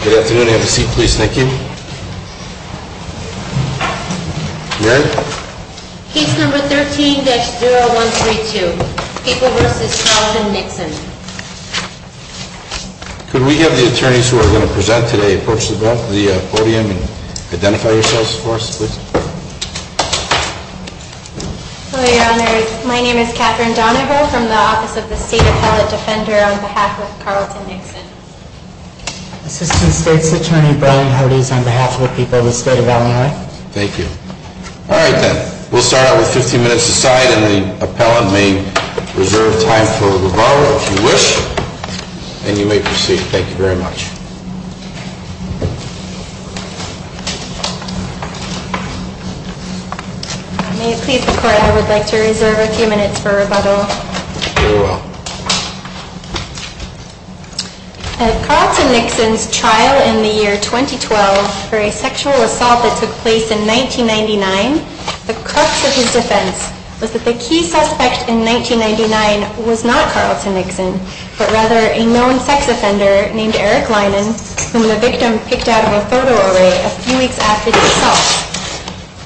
Good afternoon. Have a seat, please. Thank you. Mary? Case number 13-0132, People v. Carlton Nixon. Could we have the attorneys who are going to present today approach the podium and identify yourselves for us, please? Hello, Your Honors. My name is Catherine Donovo from the Office of the State Appellate Defender on behalf of Carlton Nixon. Assistant State's Attorney Brian Hardy is on behalf of the people of the state of Illinois. Thank you. All right, then. We'll start out with 15 minutes aside, and the appellant may reserve time for rebuttal if you wish, and you may proceed. Thank you very much. May it please the Court, I would like to reserve a few minutes for rebuttal. Very well. At Carlton Nixon's trial in the year 2012 for a sexual assault that took place in 1999, the crux of his defense was that the key suspect in 1999 was not Carlton Nixon, but rather a known sex offender named Eric Linen whom the victim picked out of a photo array a few weeks after the assault.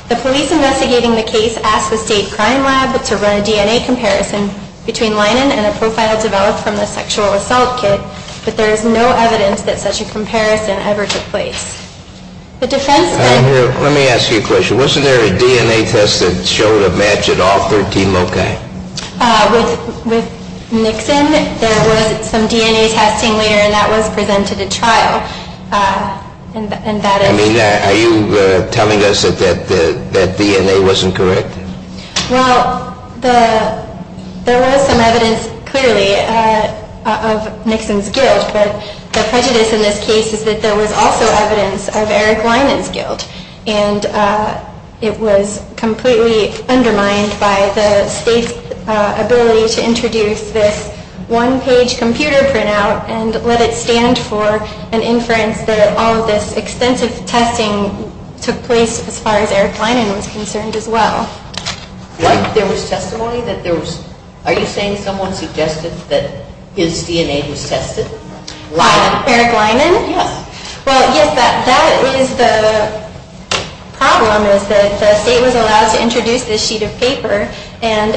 The police investigating the case asked the state crime lab to run a DNA comparison between Linen and a profile developed from the sexual assault kit, but there is no evidence that such a comparison ever took place. Let me ask you a question. Wasn't there a DNA test that showed a match at all 13 loci? With Nixon, there was some DNA testing later, and that was presented at trial. Are you telling us that that DNA wasn't correct? Well, there was some evidence, clearly, of Nixon's guilt, but the prejudice in this case is that there was also evidence of Eric Linen's guilt, and it was completely undermined by the state's ability to introduce this one-page computer printout and let it stand for an inference that all of this extensive testing took place as far as Eric Linen was concerned as well. There was testimony that there was, are you saying someone suggested that his DNA was tested? Eric Linen? Yes. Well, yes, that is the problem, is that the state was allowed to introduce this sheet of paper, and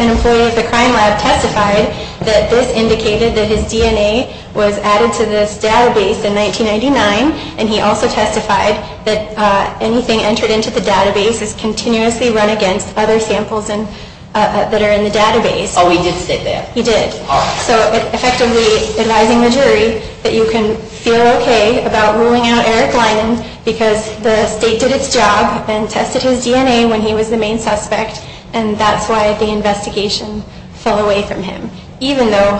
an employee at the crime lab testified that this indicated that his DNA was added to this database in 1999, and he also testified that anything entered into the database is continuously run against other samples that are in the database. Oh, he did state that? He did. So effectively advising the jury that you can feel okay about ruling out Eric Linen because the state did its job and tested his DNA when he was the main suspect, and that's why the investigation fell away from him, even though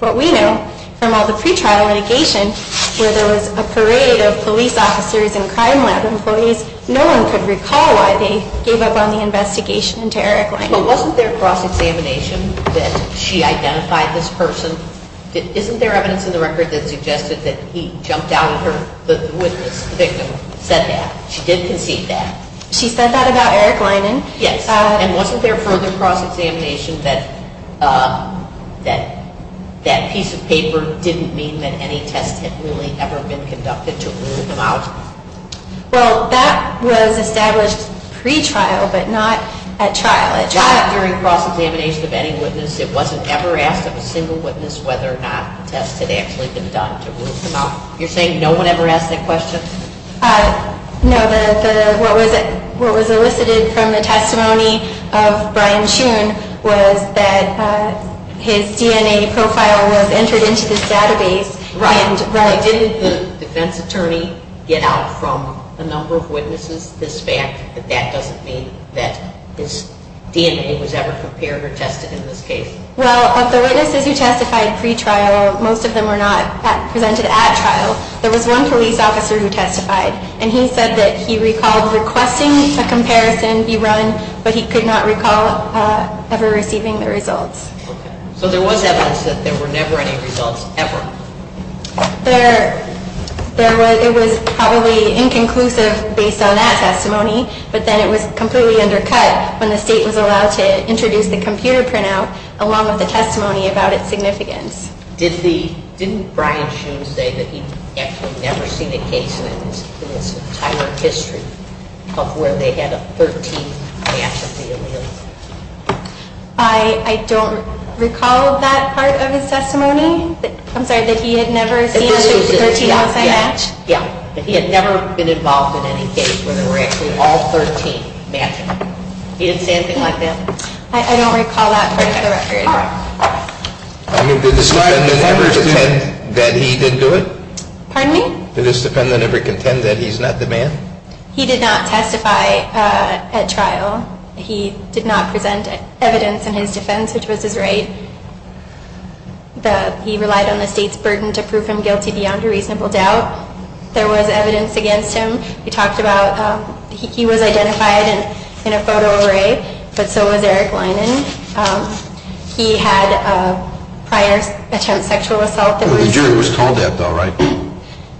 what we know from all the pretrial litigation where there was a parade of police officers and crime lab employees, no one could recall why they gave up on the investigation into Eric Linen. But wasn't there cross-examination that she identified this person? Isn't there evidence in the record that suggested that he jumped out at her, the witness, the victim, said that? She did concede that? She said that about Eric Linen. Yes. And wasn't there further cross-examination that that piece of paper didn't mean that any test had really ever been conducted to rule them out? Well, that was established pretrial, but not at trial. Not during cross-examination of any witness. It wasn't ever asked of a single witness whether or not the test had actually been done to rule them out. You're saying no one ever asked that question? No. What was elicited from the testimony of Brian Shoon was that his DNA profile was entered into this database. Right. Didn't the defense attorney get out from a number of witnesses this fact that that doesn't mean that his DNA was ever compared or tested in this case? Well, of the witnesses who testified pretrial, most of them were not presented at trial. There was one police officer who testified, and he said that he recalled requesting a comparison be run, but he could not recall ever receiving the results. Okay. So there was evidence that there were never any results ever? There was. It was probably inconclusive based on that testimony, but then it was completely undercut when the state was allowed to introduce the computer printout along with the testimony about its significance. Didn't Brian Shoon say that he'd actually never seen a case in his entire history of where they had a 13th pass of the allele? I don't recall that part of his testimony. I'm sorry, that he had never seen a 13th pass match? Yeah, that he had never been involved in any case where there were actually all 13 matching. He didn't say anything like that? I don't recall that part of the record. Did the defendant ever contend that he did do it? Pardon me? Did the defendant ever contend that he's not the man? He did not testify at trial. He did not present evidence in his defense, which was his right. He relied on the state's burden to prove him guilty beyond a reasonable doubt. There was evidence against him. He talked about he was identified in a photo array, but so was Eric Leinen. He had a prior attempt sexual assault. The jury was told that, though, right?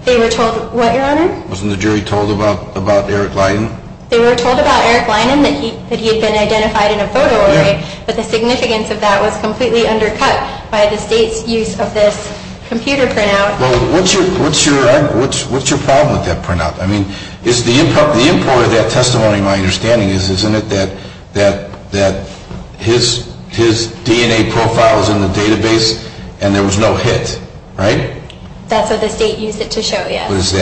They were told what, Your Honor? Wasn't the jury told about Eric Leinen? They were told about Eric Leinen, that he had been identified in a photo array, but the significance of that was completely undercut by the state's use of this computer printout. Well, what's your problem with that printout? I mean, the import of that testimony, my understanding is, isn't it, that his DNA profile is in the database and there was no hit, right? That's what the state used it to show, yes. Is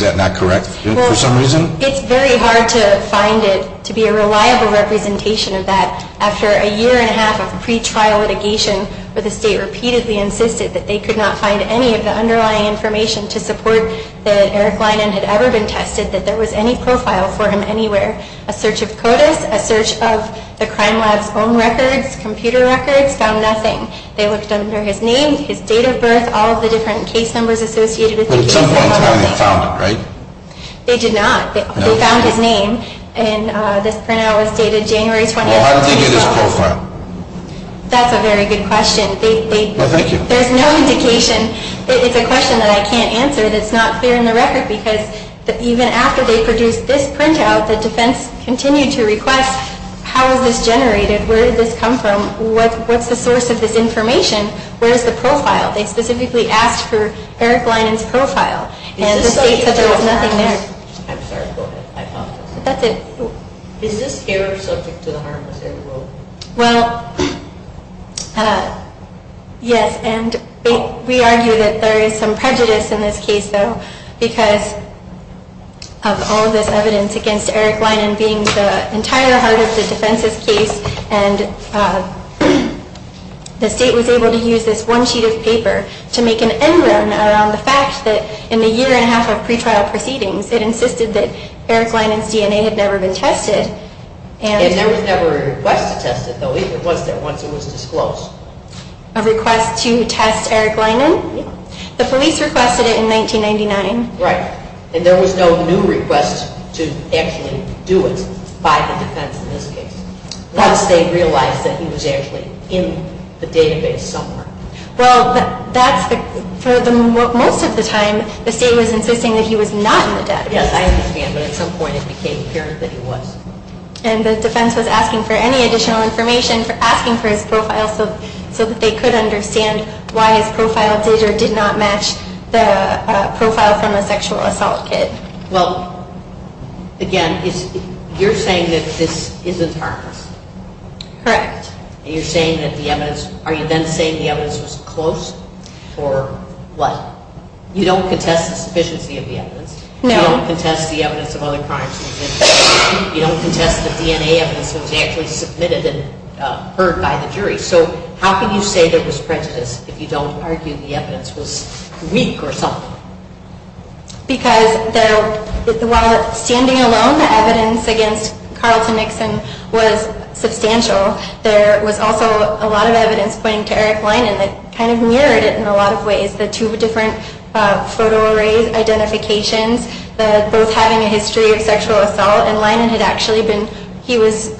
that not correct for some reason? It's very hard to find it to be a reliable representation of that. After a year and a half of pretrial litigation, the state repeatedly insisted that they could not find any of the underlying information to support that Eric Leinen had ever been tested, that there was any profile for him anywhere. A search of CODIS, a search of the crime lab's own records, computer records, found nothing. They looked under his name, his date of birth, all the different case numbers associated with the case. But at some point, they found it, right? They did not. They found his name, and this printout was dated January 20, 2012. Well, how did they get his profile? That's a very good question. Well, thank you. There's no indication. It's a question that I can't answer that's not clear in the record because even after they produced this printout, the defense continued to request, how is this generated, where did this come from, what's the source of this information, where's the profile? They specifically asked for Eric Leinen's profile. And the state said there was nothing there. I'm sorry. Go ahead. That's it. Is this error subject to the harmless error rule? Well, yes, and we argue that there is some prejudice in this case, though, because of all of this evidence against Eric Leinen being the entire heart of the defense's case, and the state was able to use this one sheet of paper to make an end round around the fact that in the year and a half of pretrial proceedings, it insisted that Eric Leinen's DNA had never been tested. And there was never a request to test it, though. It was there once it was disclosed. A request to test Eric Leinen? Yes. The police requested it in 1999. Right. And there was no new request to actually do it by the defense in this case, once they realized that he was actually in the database somewhere. Well, for most of the time, the state was insisting that he was not in the database. Yes, I understand, but at some point it became apparent that he was. And the defense was asking for any additional information, asking for his profile so that they could understand why his profile did or did not match the profile from the sexual assault kit. Well, again, you're saying that this isn't harmless? Correct. And you're saying that the evidence – are you then saying the evidence was close or what? You don't contest the sufficiency of the evidence. No. You don't contest the evidence of other crimes. You don't contest the DNA evidence that was actually submitted and heard by the jury. So how can you say there was prejudice if you don't argue the evidence was weak or something? Because while standing alone, the evidence against Carlton Nixon was substantial, there was also a lot of evidence pointing to Eric Leinen that kind of mirrored it in a lot of ways. The two different photo array identifications, both having a history of sexual assault, and Leinen had actually been – he was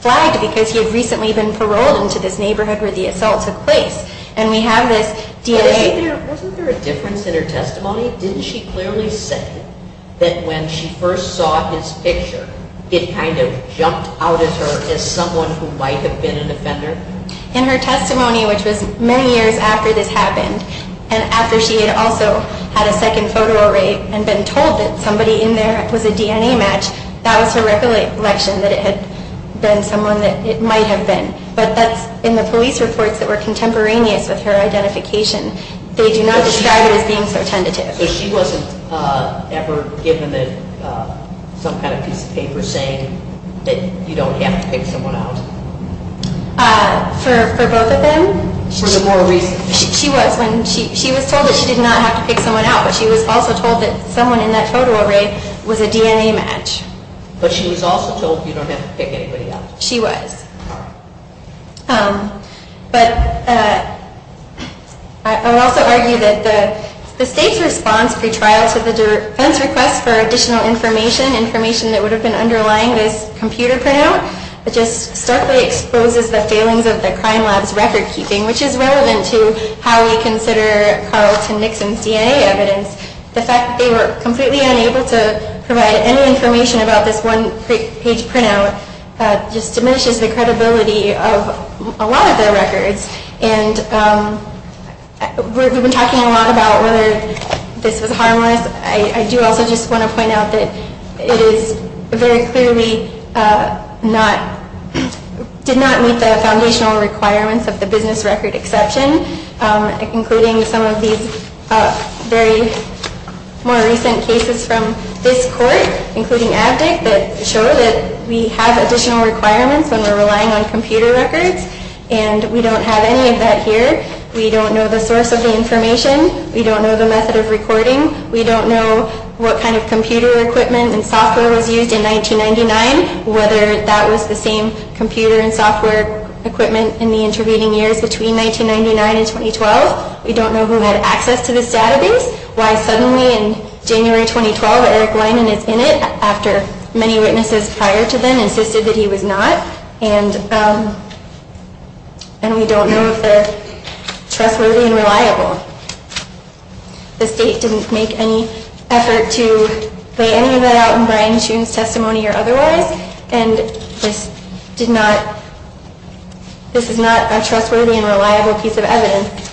flagged because he had recently been paroled into this neighborhood where the assault took place. And we have this DNA – Wasn't there a difference in her testimony? Didn't she clearly say that when she first saw his picture, it kind of jumped out at her as someone who might have been an offender? In her testimony, which was many years after this happened, and after she had also had a second photo array and been told that somebody in there was a DNA match, that was her recollection that it had been someone that it might have been. But that's – in the police reports that were contemporaneous with her identification, they do not describe it as being so tentative. So she wasn't ever given some kind of piece of paper saying that you don't have to pick someone out? For both of them? For the more recent – She was when she was told that she did not have to pick someone out, but she was also told that someone in that photo array was a DNA match. But she was also told you don't have to pick anybody out. She was. But I would also argue that the state's response, pre-trial to the defense request for additional information, information that would have been underlying this computer printout, just starkly exposes the failings of the crime lab's record-keeping, which is relevant to how we consider Carlton Nixon's DNA evidence. The fact that they were completely unable to provide any information about this one-page printout just diminishes the credibility of a lot of their records. And we've been talking a lot about whether this was harmless. I do also just want to point out that it is very clearly not – did not meet the foundational requirements of the business record exception, including some of these very more recent cases from this court, including Avdik, that show that we have additional requirements when we're relying on computer records. And we don't have any of that here. We don't know the source of the information. We don't know the method of recording. We don't know what kind of computer equipment and software was used in 1999, whether that was the same computer and software equipment in the intervening years between 1999 and 2012. We don't know who had access to this database, why suddenly in January 2012 Eric Lyman is in it, after many witnesses prior to then insisted that he was not. And we don't know if they're trustworthy and reliable. The state didn't make any effort to lay any of that out in Brian Shoon's testimony or otherwise. And this did not – this is not a trustworthy and reliable piece of evidence.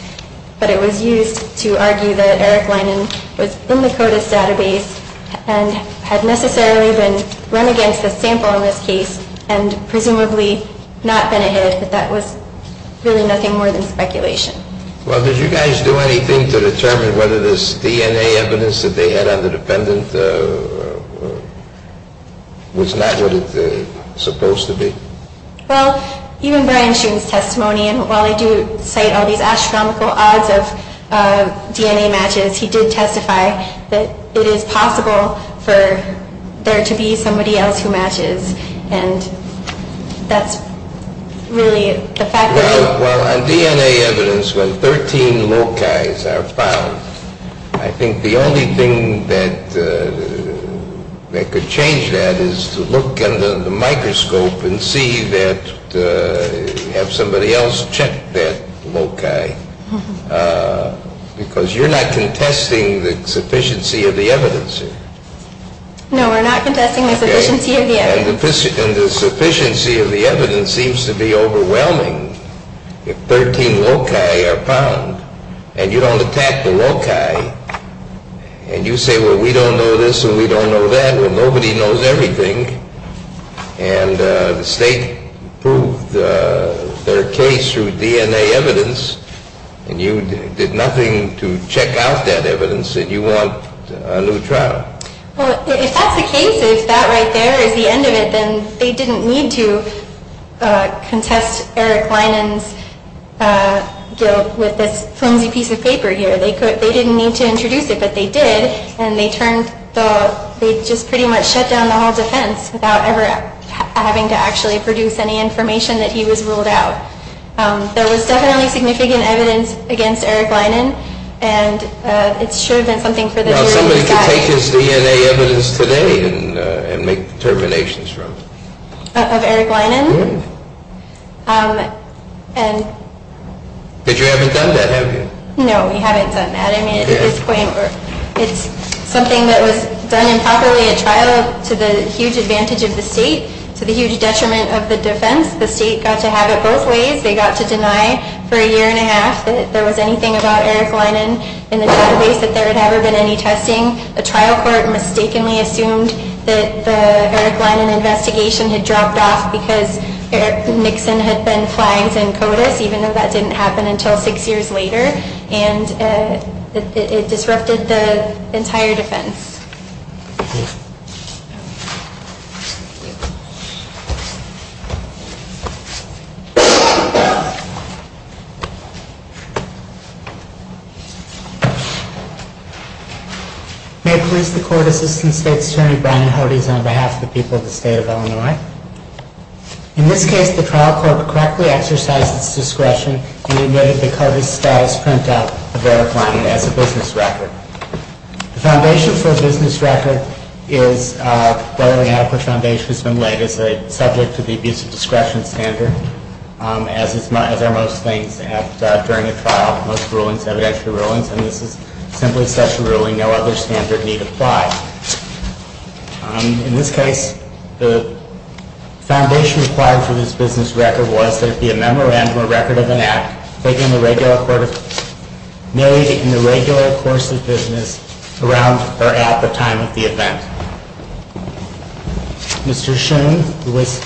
But it was used to argue that Eric Lyman was in the CODIS database and had necessarily been run against a sample in this case and presumably not been a hit, but that was really nothing more than speculation. Well, did you guys do anything to determine whether this DNA evidence that they had on the defendant was not what it's supposed to be? Well, even Brian Shoon's testimony, and while I do cite all these astronomical odds of DNA matches, he did testify that it is possible for there to be somebody else who matches. And that's really the fact of the matter. Well, on DNA evidence, when 13 loci are found, I think the only thing that could change that is to look under the microscope and see that – have somebody else check that loci, because you're not contesting the sufficiency of the evidence here. No, we're not contesting the sufficiency of the evidence. And the sufficiency of the evidence seems to be overwhelming. If 13 loci are found, and you don't attack the loci, and you say, well, we don't know this, and we don't know that, and nobody knows everything, and the state proved their case through DNA evidence, and you did nothing to check out that evidence, and you want a new trial. Well, if that's the case, if that right there is the end of it, then they didn't need to contest Eric Linen's guilt with this flimsy piece of paper here. They didn't need to introduce it, but they did, and they just pretty much shut down the whole defense without ever having to actually produce any information that he was ruled out. There was definitely significant evidence against Eric Linen, and it should have been something for the jury to decide. Now, somebody could take his DNA evidence today and make determinations from it. Of Eric Linen? Yes. But you haven't done that, have you? No, we haven't done that. I mean, at this point, it's something that was done improperly at trial to the huge advantage of the state, to the huge detriment of the defense. The state got to have it both ways. They got to deny for a year and a half that there was anything about Eric Linen in the database, that there had never been any testing. The trial court mistakenly assumed that the Eric Linen investigation had dropped off because Nixon had been flying in CODIS, even though that didn't happen until six years later, and it disrupted the entire defense. May it please the Court Assistant State's Attorney, Brian Hodes, on behalf of the people of the State of Illinois. In this case, the trial court correctly exercised its discretion and admitted the CODIS status printout of Eric Linen as a business record. The foundation for a business record is what we have for foundation has been laid as a subject to the abuse of discretion standard, as are most things during a trial, most rulings, evidentiary rulings, and this is simply such a ruling no other standard need apply. In this case, the foundation required for this business record was that it be a memorandum or record of an act taking the regular course of business around or at the time of the event. Mr. Shoon, who was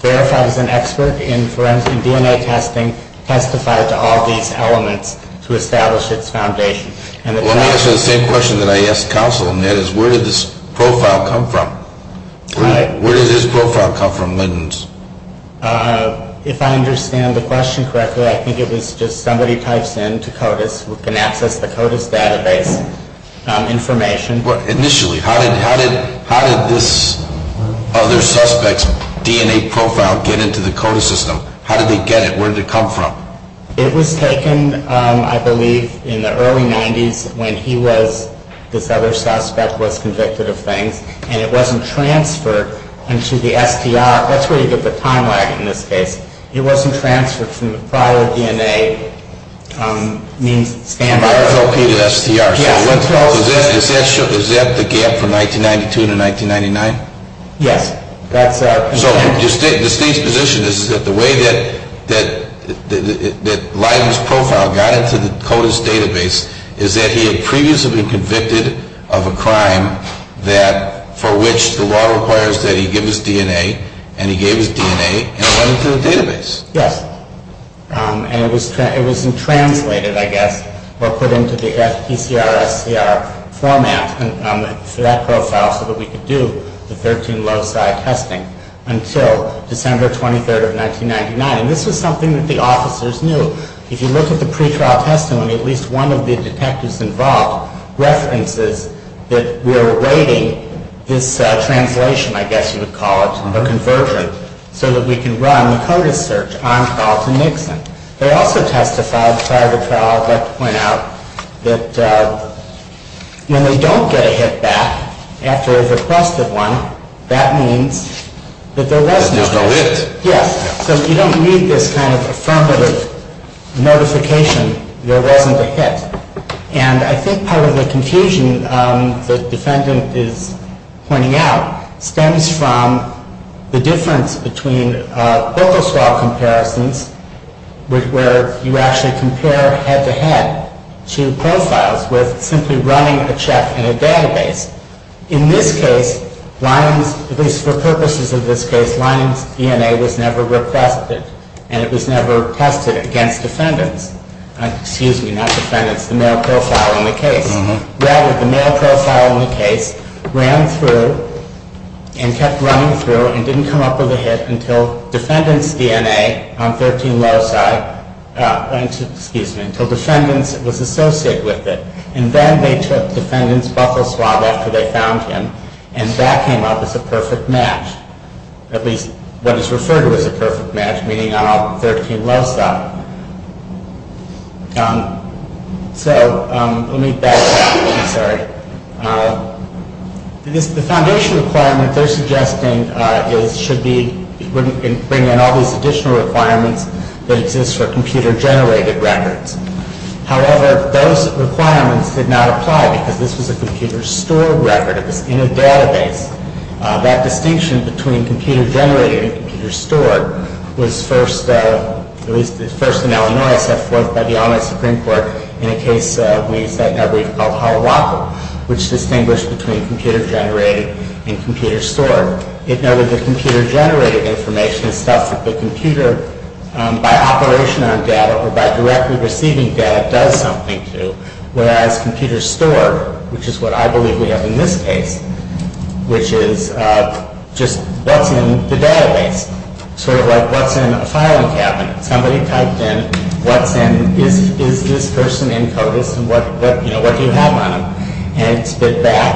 verified as an expert in DNA testing, testified to all these elements to establish its foundation. Let me ask you the same question that I asked counsel, and that is, where did this profile come from? Where did this profile come from, Linen's? If I understand the question correctly, I think it was just somebody types in to CODIS who can access the CODIS database information. Initially, how did this other suspect's DNA profile get into the CODIS system? How did they get it? Where did it come from? It was taken, I believe, in the early 90s when he was, this other suspect was convicted of things, and it wasn't transferred into the STR. That's where you get the time lag in this case. It wasn't transferred from the prior DNA means standard. Is that the gap from 1992 to 1999? Yes. So the state's position is that the way that Linen's profile got into the CODIS database is that he had previously been convicted of a crime for which the law requires that he give his DNA, and he gave his DNA and it went into the database. Yes, and it was translated, I guess, or put into the PCR-SCR format for that profile so that we could do the 13 loci testing until December 23, 1999. And this was something that the officers knew. If you look at the pretrial testimony, at least one of the detectives involved references that we're awaiting this translation, I guess you would call it, or conversion, so that we can run the CODIS search on Dalton Nixon. They also testified prior to trial, I'd like to point out, that when they don't get a hit back after they've requested one, that means that there was no hit. There's no hit. Yes. So you don't need this kind of affirmative notification there wasn't a hit. And I think part of the confusion the defendant is pointing out stems from the difference between Bocas Law comparisons where you actually compare head-to-head to profiles with simply running a check in a database. In this case, Lyman's, at least for purposes of this case, Lyman's DNA was never requested, and it was never tested against defendants. Excuse me, not defendants, the male profile in the case. Rather, the male profile in the case ran through and kept running through and didn't come up with a hit until defendants' DNA on 13 Loci, excuse me, until defendants was associated with it. And then they took defendants' buffel swab after they found him and back him up as a perfect match, at least what is referred to as a perfect match, meaning on all 13 Loci. So let me back up, I'm sorry. The foundation requirement they're suggesting is, should be bringing in all these additional requirements that exist for computer-generated records. However, those requirements did not apply because this was a computer-stored record. It was in a database. That distinction between computer-generated and computer-stored was first, at least first in Illinois, set forth by the Ombudsman Supreme Court in a case we set in our brief called Holowaca, which distinguished between computer-generated and computer-stored. It noted that computer-generated information is stuff that the computer, by operation on data or by directly receiving data, does something to, whereas computer-stored, which is what I believe we have in this case, which is just what's in the database. Sort of like what's in a filing cabinet. Somebody typed in what's in, is this person in CODIS, and what do you have on them? And it spit back,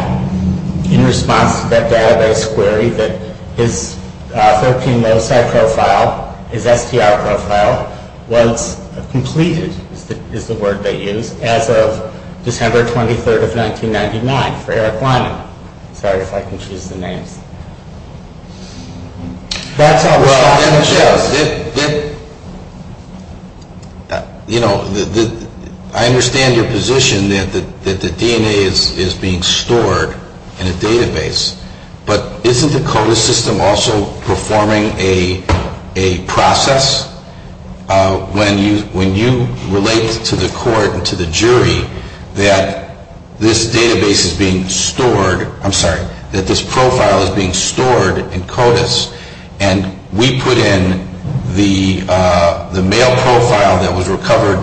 in response to that database query, that his 13 Loci profile, his STR profile, was completed, is the word they used, as of December 23rd of 1999 for Eric Lyman. Sorry if I can choose the names. Well, you know, I understand your position that the DNA is being stored in a database, but isn't the CODIS system also performing a process when you relate to the court and to the jury that this database is being stored, I'm sorry, that this profile is being stored in CODIS, and we put in the male profile that was recovered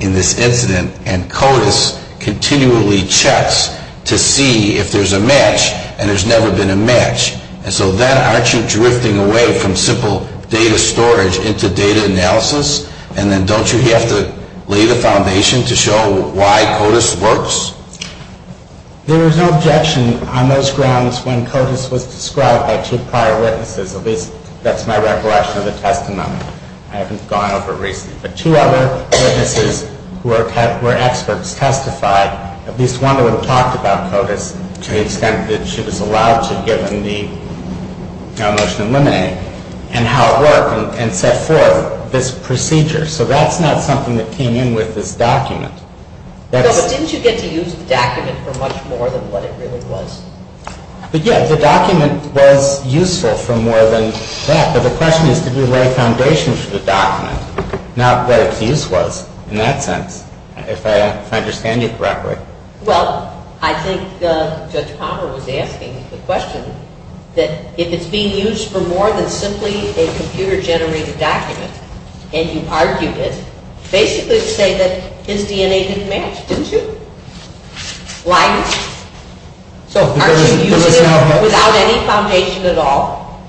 in this incident, and CODIS continually checks to see if there's a match, and there's never been a match. And so then aren't you drifting away from simple data storage into data analysis, and then don't you have to lay the foundation to show why CODIS works? There was no objection on those grounds when CODIS was described by two prior witnesses, at least that's my recollection of the testimony. I haven't gone over it recently. But two other witnesses were experts, testified, at least one of them talked about CODIS to the extent that she was allowed to, given the motion to eliminate, and how it worked, and set forth this procedure. So that's not something that came in with this document. But didn't you get to use the document for much more than what it really was? Yeah, the document was useful for more than that, but the question is did we lay foundation for the document, not what its use was in that sense, if I understand you correctly. Well, I think Judge Palmer was asking the question that if it's being used for more than simply a computer-generated document, and you argued it, basically to say that his DNA didn't match, didn't you? Like, aren't you using it without any foundation at all?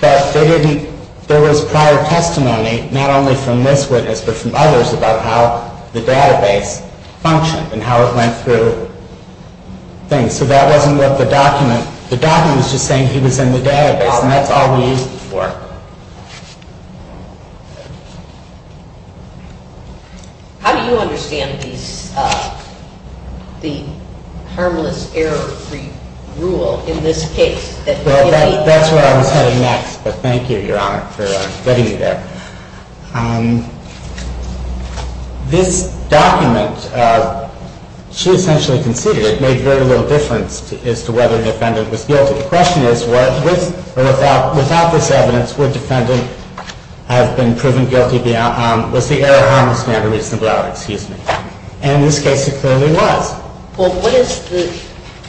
But there was prior testimony, not only from this witness, but from others about how the database functioned and how it went through things. So that wasn't what the document, the document was just saying he was in the database, and that's all we used it for. How do you understand the harmless error-free rule in this case? Well, that's where I was heading next, but thank you, Your Honor, for getting me there. This document, she essentially conceded it made very little difference as to whether the defendant was guilty. The question is, with or without this evidence, was the error on this matter reasonable? And in this case, it clearly was. Well,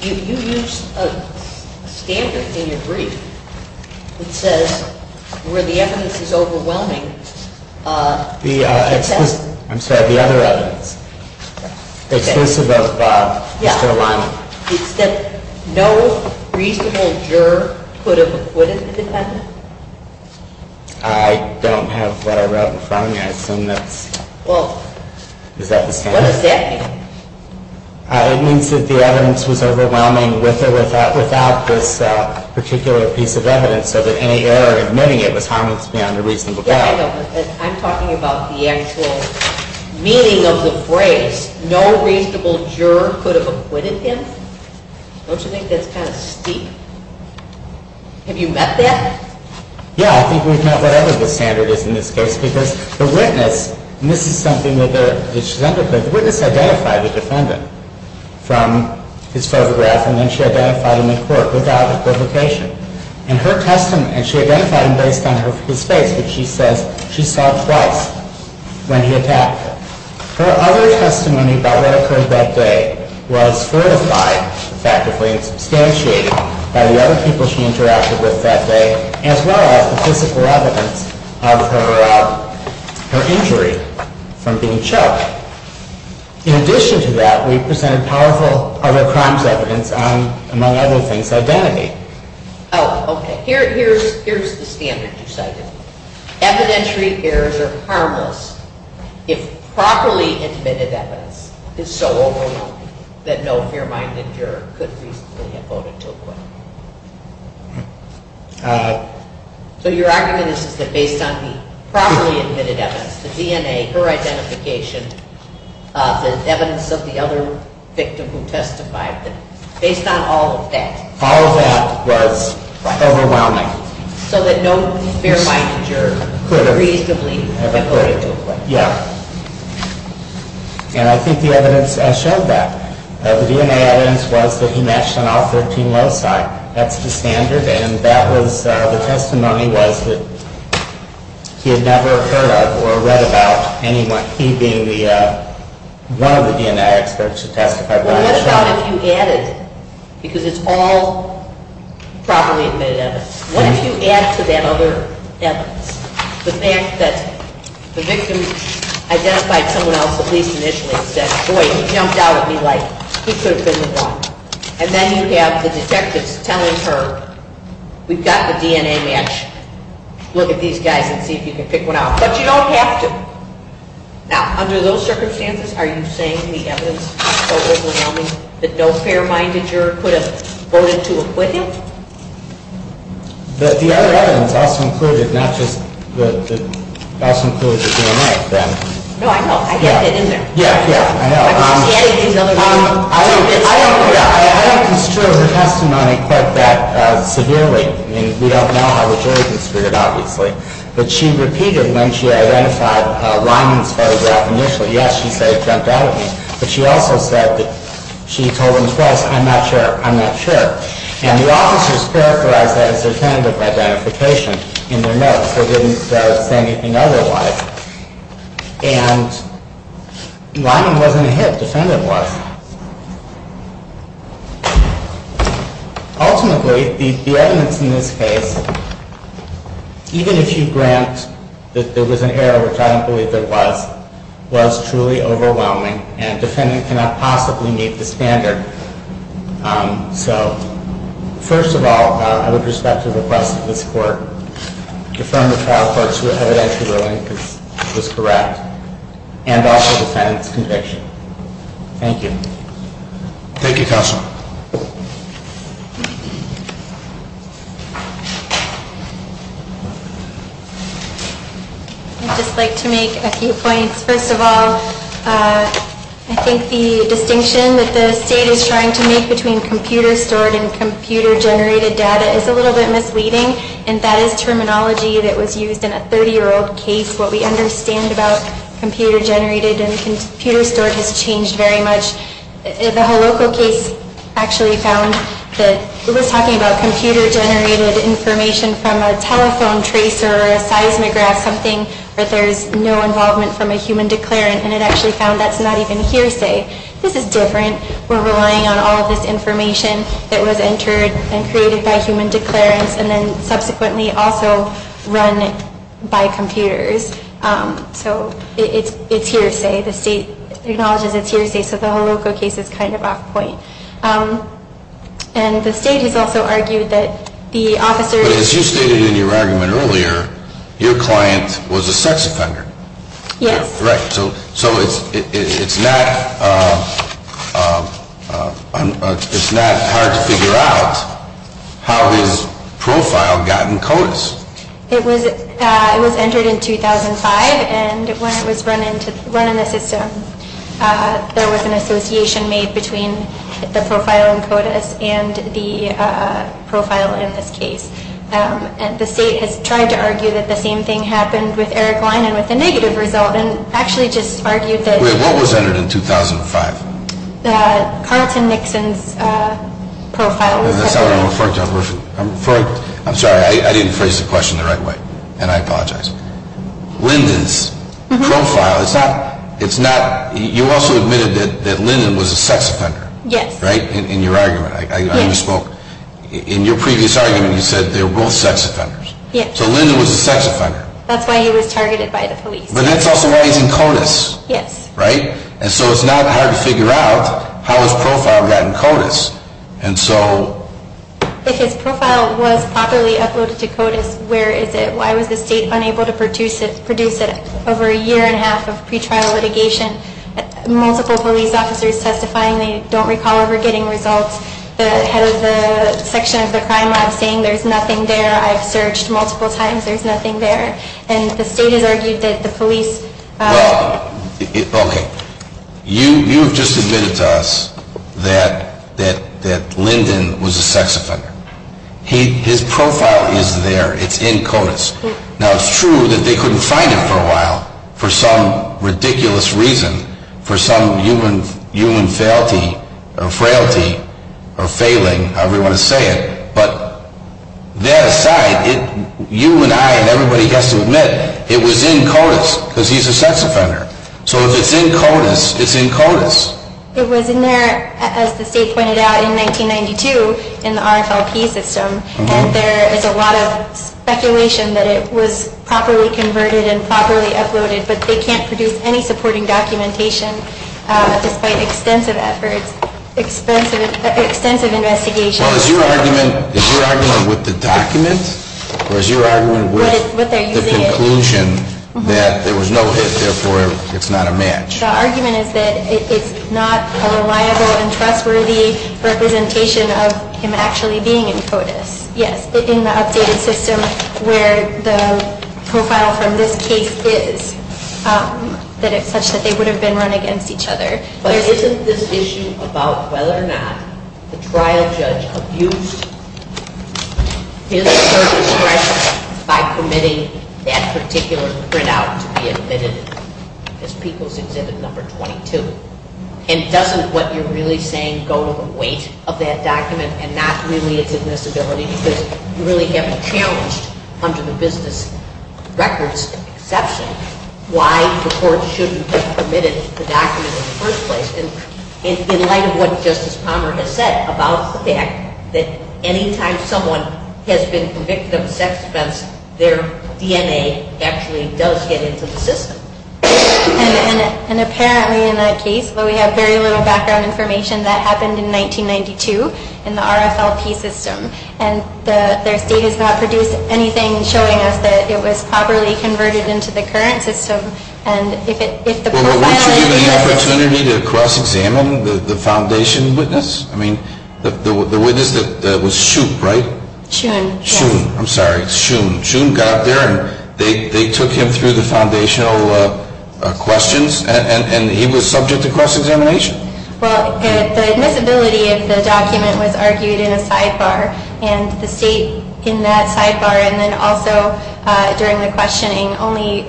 you used a standard in your brief that says where the evidence is overwhelming. I'm sorry, the other evidence. Exclusive of Mr. O'Reilly. It's that no reasonable juror could have acquitted the defendant? I don't have what I wrote in front of me. I assume that's, is that the standard? What does that mean? It means that the evidence was overwhelming with or without this particular piece of evidence, so that any error in admitting it was harmless beyond a reasonable doubt. I'm talking about the actual meaning of the phrase, no reasonable juror could have acquitted him? Don't you think that's kind of steep? Have you met that? Yeah, I think we've met whatever the standard is in this case, because the witness, and this is something that she's underpinning, the witness identified the defendant from his photograph, and then she identified him in court without equivocation. And her testimony, and she identified him based on his face, which she says she saw twice when he attacked her. Her other testimony about what occurred that day was fortified effectively and substantiated by the other people she interacted with that day, as well as the physical evidence of her injury from being choked. In addition to that, we presented powerful other crimes evidence on, among other things, identity. Oh, okay. Here's the standard you cited. Evidentiary errors are harmless if properly admitted evidence is so overwhelming that no fair-minded juror could reasonably have voted to acquit. So your argument is that based on the properly admitted evidence, the DNA, her identification, the evidence of the other victim who testified, based on all of that. All of that was overwhelming. So that no fair-minded juror could reasonably have voted to acquit. Yeah. And I think the evidence showed that. The DNA evidence was that he matched on all 13 loci. That's the standard. And that was, the testimony was that he had never heard of or read about anyone, he being the, one of the DNA experts who testified. Well, what about if you added, because it's all properly admitted evidence, what if you add to that other evidence? The fact that the victim identified someone else at least initially and said, boy, he jumped out at me like he could have been the one. And then you have the detectives telling her, we've got the DNA match, look at these guys and see if you can pick one out. But you don't have to. Now, under those circumstances, are you saying the evidence was so overwhelming that no fair-minded juror could have voted to acquit him? The other evidence also included not just the, also included the DNA, then. No, I know. I get that, isn't there? Yeah, yeah, I know. I don't construe her testimony quite that severely. I mean, we don't know how the jury construed it, obviously. But she repeated when she identified Lyman's photograph initially, yes, she said he jumped out at me, but she also said that she told him twice, I'm not sure, I'm not sure. And the officers characterized that as their tentative identification in their notes. They didn't say anything otherwise. And Lyman wasn't a hit. The defendant was. Ultimately, the evidence in this case, even if you grant that there was an error, which I don't believe there was, was truly overwhelming. And a defendant cannot possibly meet this standard. So, first of all, I would respect the request of this Court to affirm the trial court's evidentiary ruling was correct, and also the defendant's conviction. Thank you. Thank you, Counselor. I'd just like to make a few points. First of all, I think the distinction that the State is trying to make between computer-stored and computer-generated data is a little bit misleading. And that is terminology that was used in a 30-year-old case. What we understand about computer-generated and computer-stored has changed very much. It was talking about computer-generated information from a telephone tracer or a seismograph, something where there's no involvement from a human declarant, and it actually found that's not even hearsay. This is different. We're relying on all of this information that was entered and created by human declarants and then subsequently also run by computers. So it's hearsay. The State acknowledges it's hearsay, so the Holocaust case is kind of off point. And the State has also argued that the officers... But as you stated in your argument earlier, your client was a sex offender. Yes. Right. So it's not hard to figure out how his profile got in CODIS. It was entered in 2005, and when it was run in the system, there was an association made between the profile in CODIS and the profile in this case. And the State has tried to argue that the same thing happened with Eric Lyon and with the negative result and actually just argued that... Wait, what was entered in 2005? Carlton Nixon's profile. I'm sorry, I didn't phrase the question the right way, and I apologize. Lyndon's profile, it's not... You also admitted that Lyndon was a sex offender. Yes. Right, in your argument. Yes. In your previous argument, you said they were both sex offenders. Yes. So Lyndon was a sex offender. That's why he was targeted by the police. But that's also why he's in CODIS. Yes. Right? And so it's not hard to figure out how his profile got in CODIS. And so... If his profile was properly uploaded to CODIS, where is it? Why was the State unable to produce it over a year and a half of pretrial litigation, multiple police officers testifying, they don't recall ever getting results, the head of the section of the crime lab saying there's nothing there, I've searched multiple times, there's nothing there, and the State has argued that the police... Well, okay. You have just admitted to us that Lyndon was a sex offender. His profile is there. It's in CODIS. Now, it's true that they couldn't find it for a while for some ridiculous reason, for some human frailty or failing, however you want to say it, but that aside, you and I and everybody has to admit it was in CODIS because he's a sex offender. So if it's in CODIS, it's in CODIS. It was in there, as the State pointed out, in 1992 in the RFLP system, and there is a lot of speculation that it was properly converted and properly uploaded, but they can't produce any supporting documentation despite extensive efforts, extensive investigations. Well, is your argument with the document? Or is your argument with the conclusion that there was no hit, therefore it's not a match? The argument is that it's not a reliable and trustworthy representation of him actually being in CODIS. Yes, in the updated system where the profile from this case is, that it's such that they would have been run against each other. But isn't this issue about whether or not the trial judge abused his or her discretion by permitting that particular printout to be admitted as People's Exhibit Number 22? And doesn't what you're really saying go to the weight of that document and not really its admissibility because you really have challenged under the business records exception why the court shouldn't have permitted the document in the first place. And in light of what Justice Palmer has said about the fact that anytime someone has been convicted of a sex offence, their DNA actually does get into the system. And apparently in that case, though we have very little background information, that happened in 1992 in the RFLP system. And their state has not produced anything showing us that it was properly converted into the current system. And if the profile... Well, weren't you given the opportunity to cross-examine the foundation witness? I mean, the witness that was shoop, right? Shoon. Shoon, I'm sorry. Shoon. Shoon got up there and they took him through the foundational questions and he was subject to cross-examination? Well, the admissibility of the document was argued in a sidebar, and the state in that sidebar and then also during the questioning only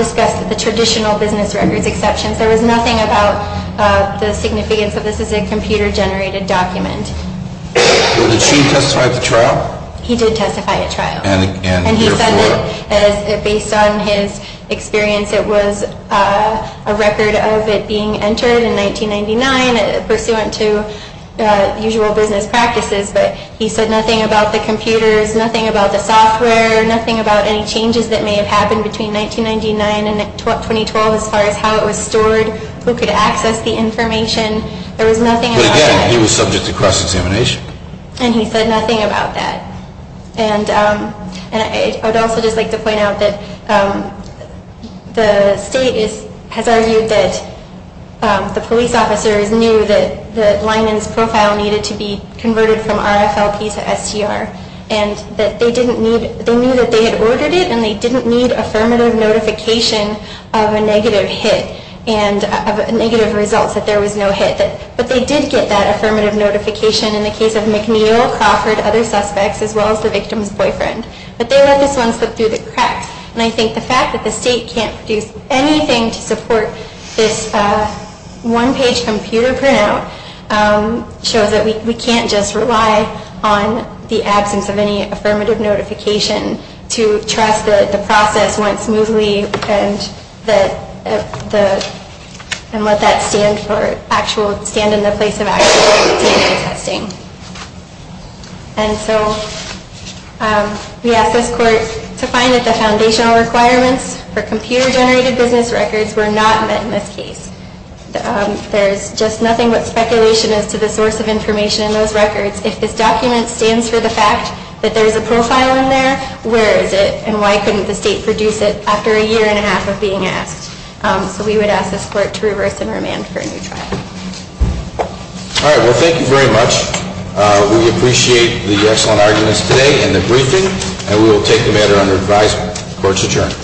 discussed the traditional business records exceptions. There was nothing about the significance of this as a computer-generated document. Did Shoon testify at the trial? He did testify at trial. And he said that based on his experience, it was a record of it being entered in 1999 pursuant to usual business practices. But he said nothing about the computers, nothing about the software, nothing about any changes that may have happened between 1999 and 2012 But again, he was subject to cross-examination. And he said nothing about that. And I would also just like to point out that the state has argued that the police officers knew that Linen's profile needed to be converted from RFLP to STR, and that they knew that they had ordered it and they didn't need affirmative notification of a negative hit and of negative results, that there was no hit. But they did get that affirmative notification in the case of McNeil, Crawford, other suspects, as well as the victim's boyfriend. But they let this one slip through the cracks. And I think the fact that the state can't produce anything to support this one-page computer printout shows that we can't just rely on the absence of any affirmative notification to trust that the process went smoothly and let that stand in the place of actual data testing. And so we asked this court to find that the foundational requirements for computer-generated business records were not met in this case. There's just nothing but speculation as to the source of information in those records. If this document stands for the fact that there's a profile in there, where is it? And why couldn't the state produce it after a year and a half of being asked? So we would ask this court to reverse and remand for a new trial. All right. Well, thank you very much. We appreciate the excellent arguments today and the briefing, and we will take the matter under advisement. Court's adjourned.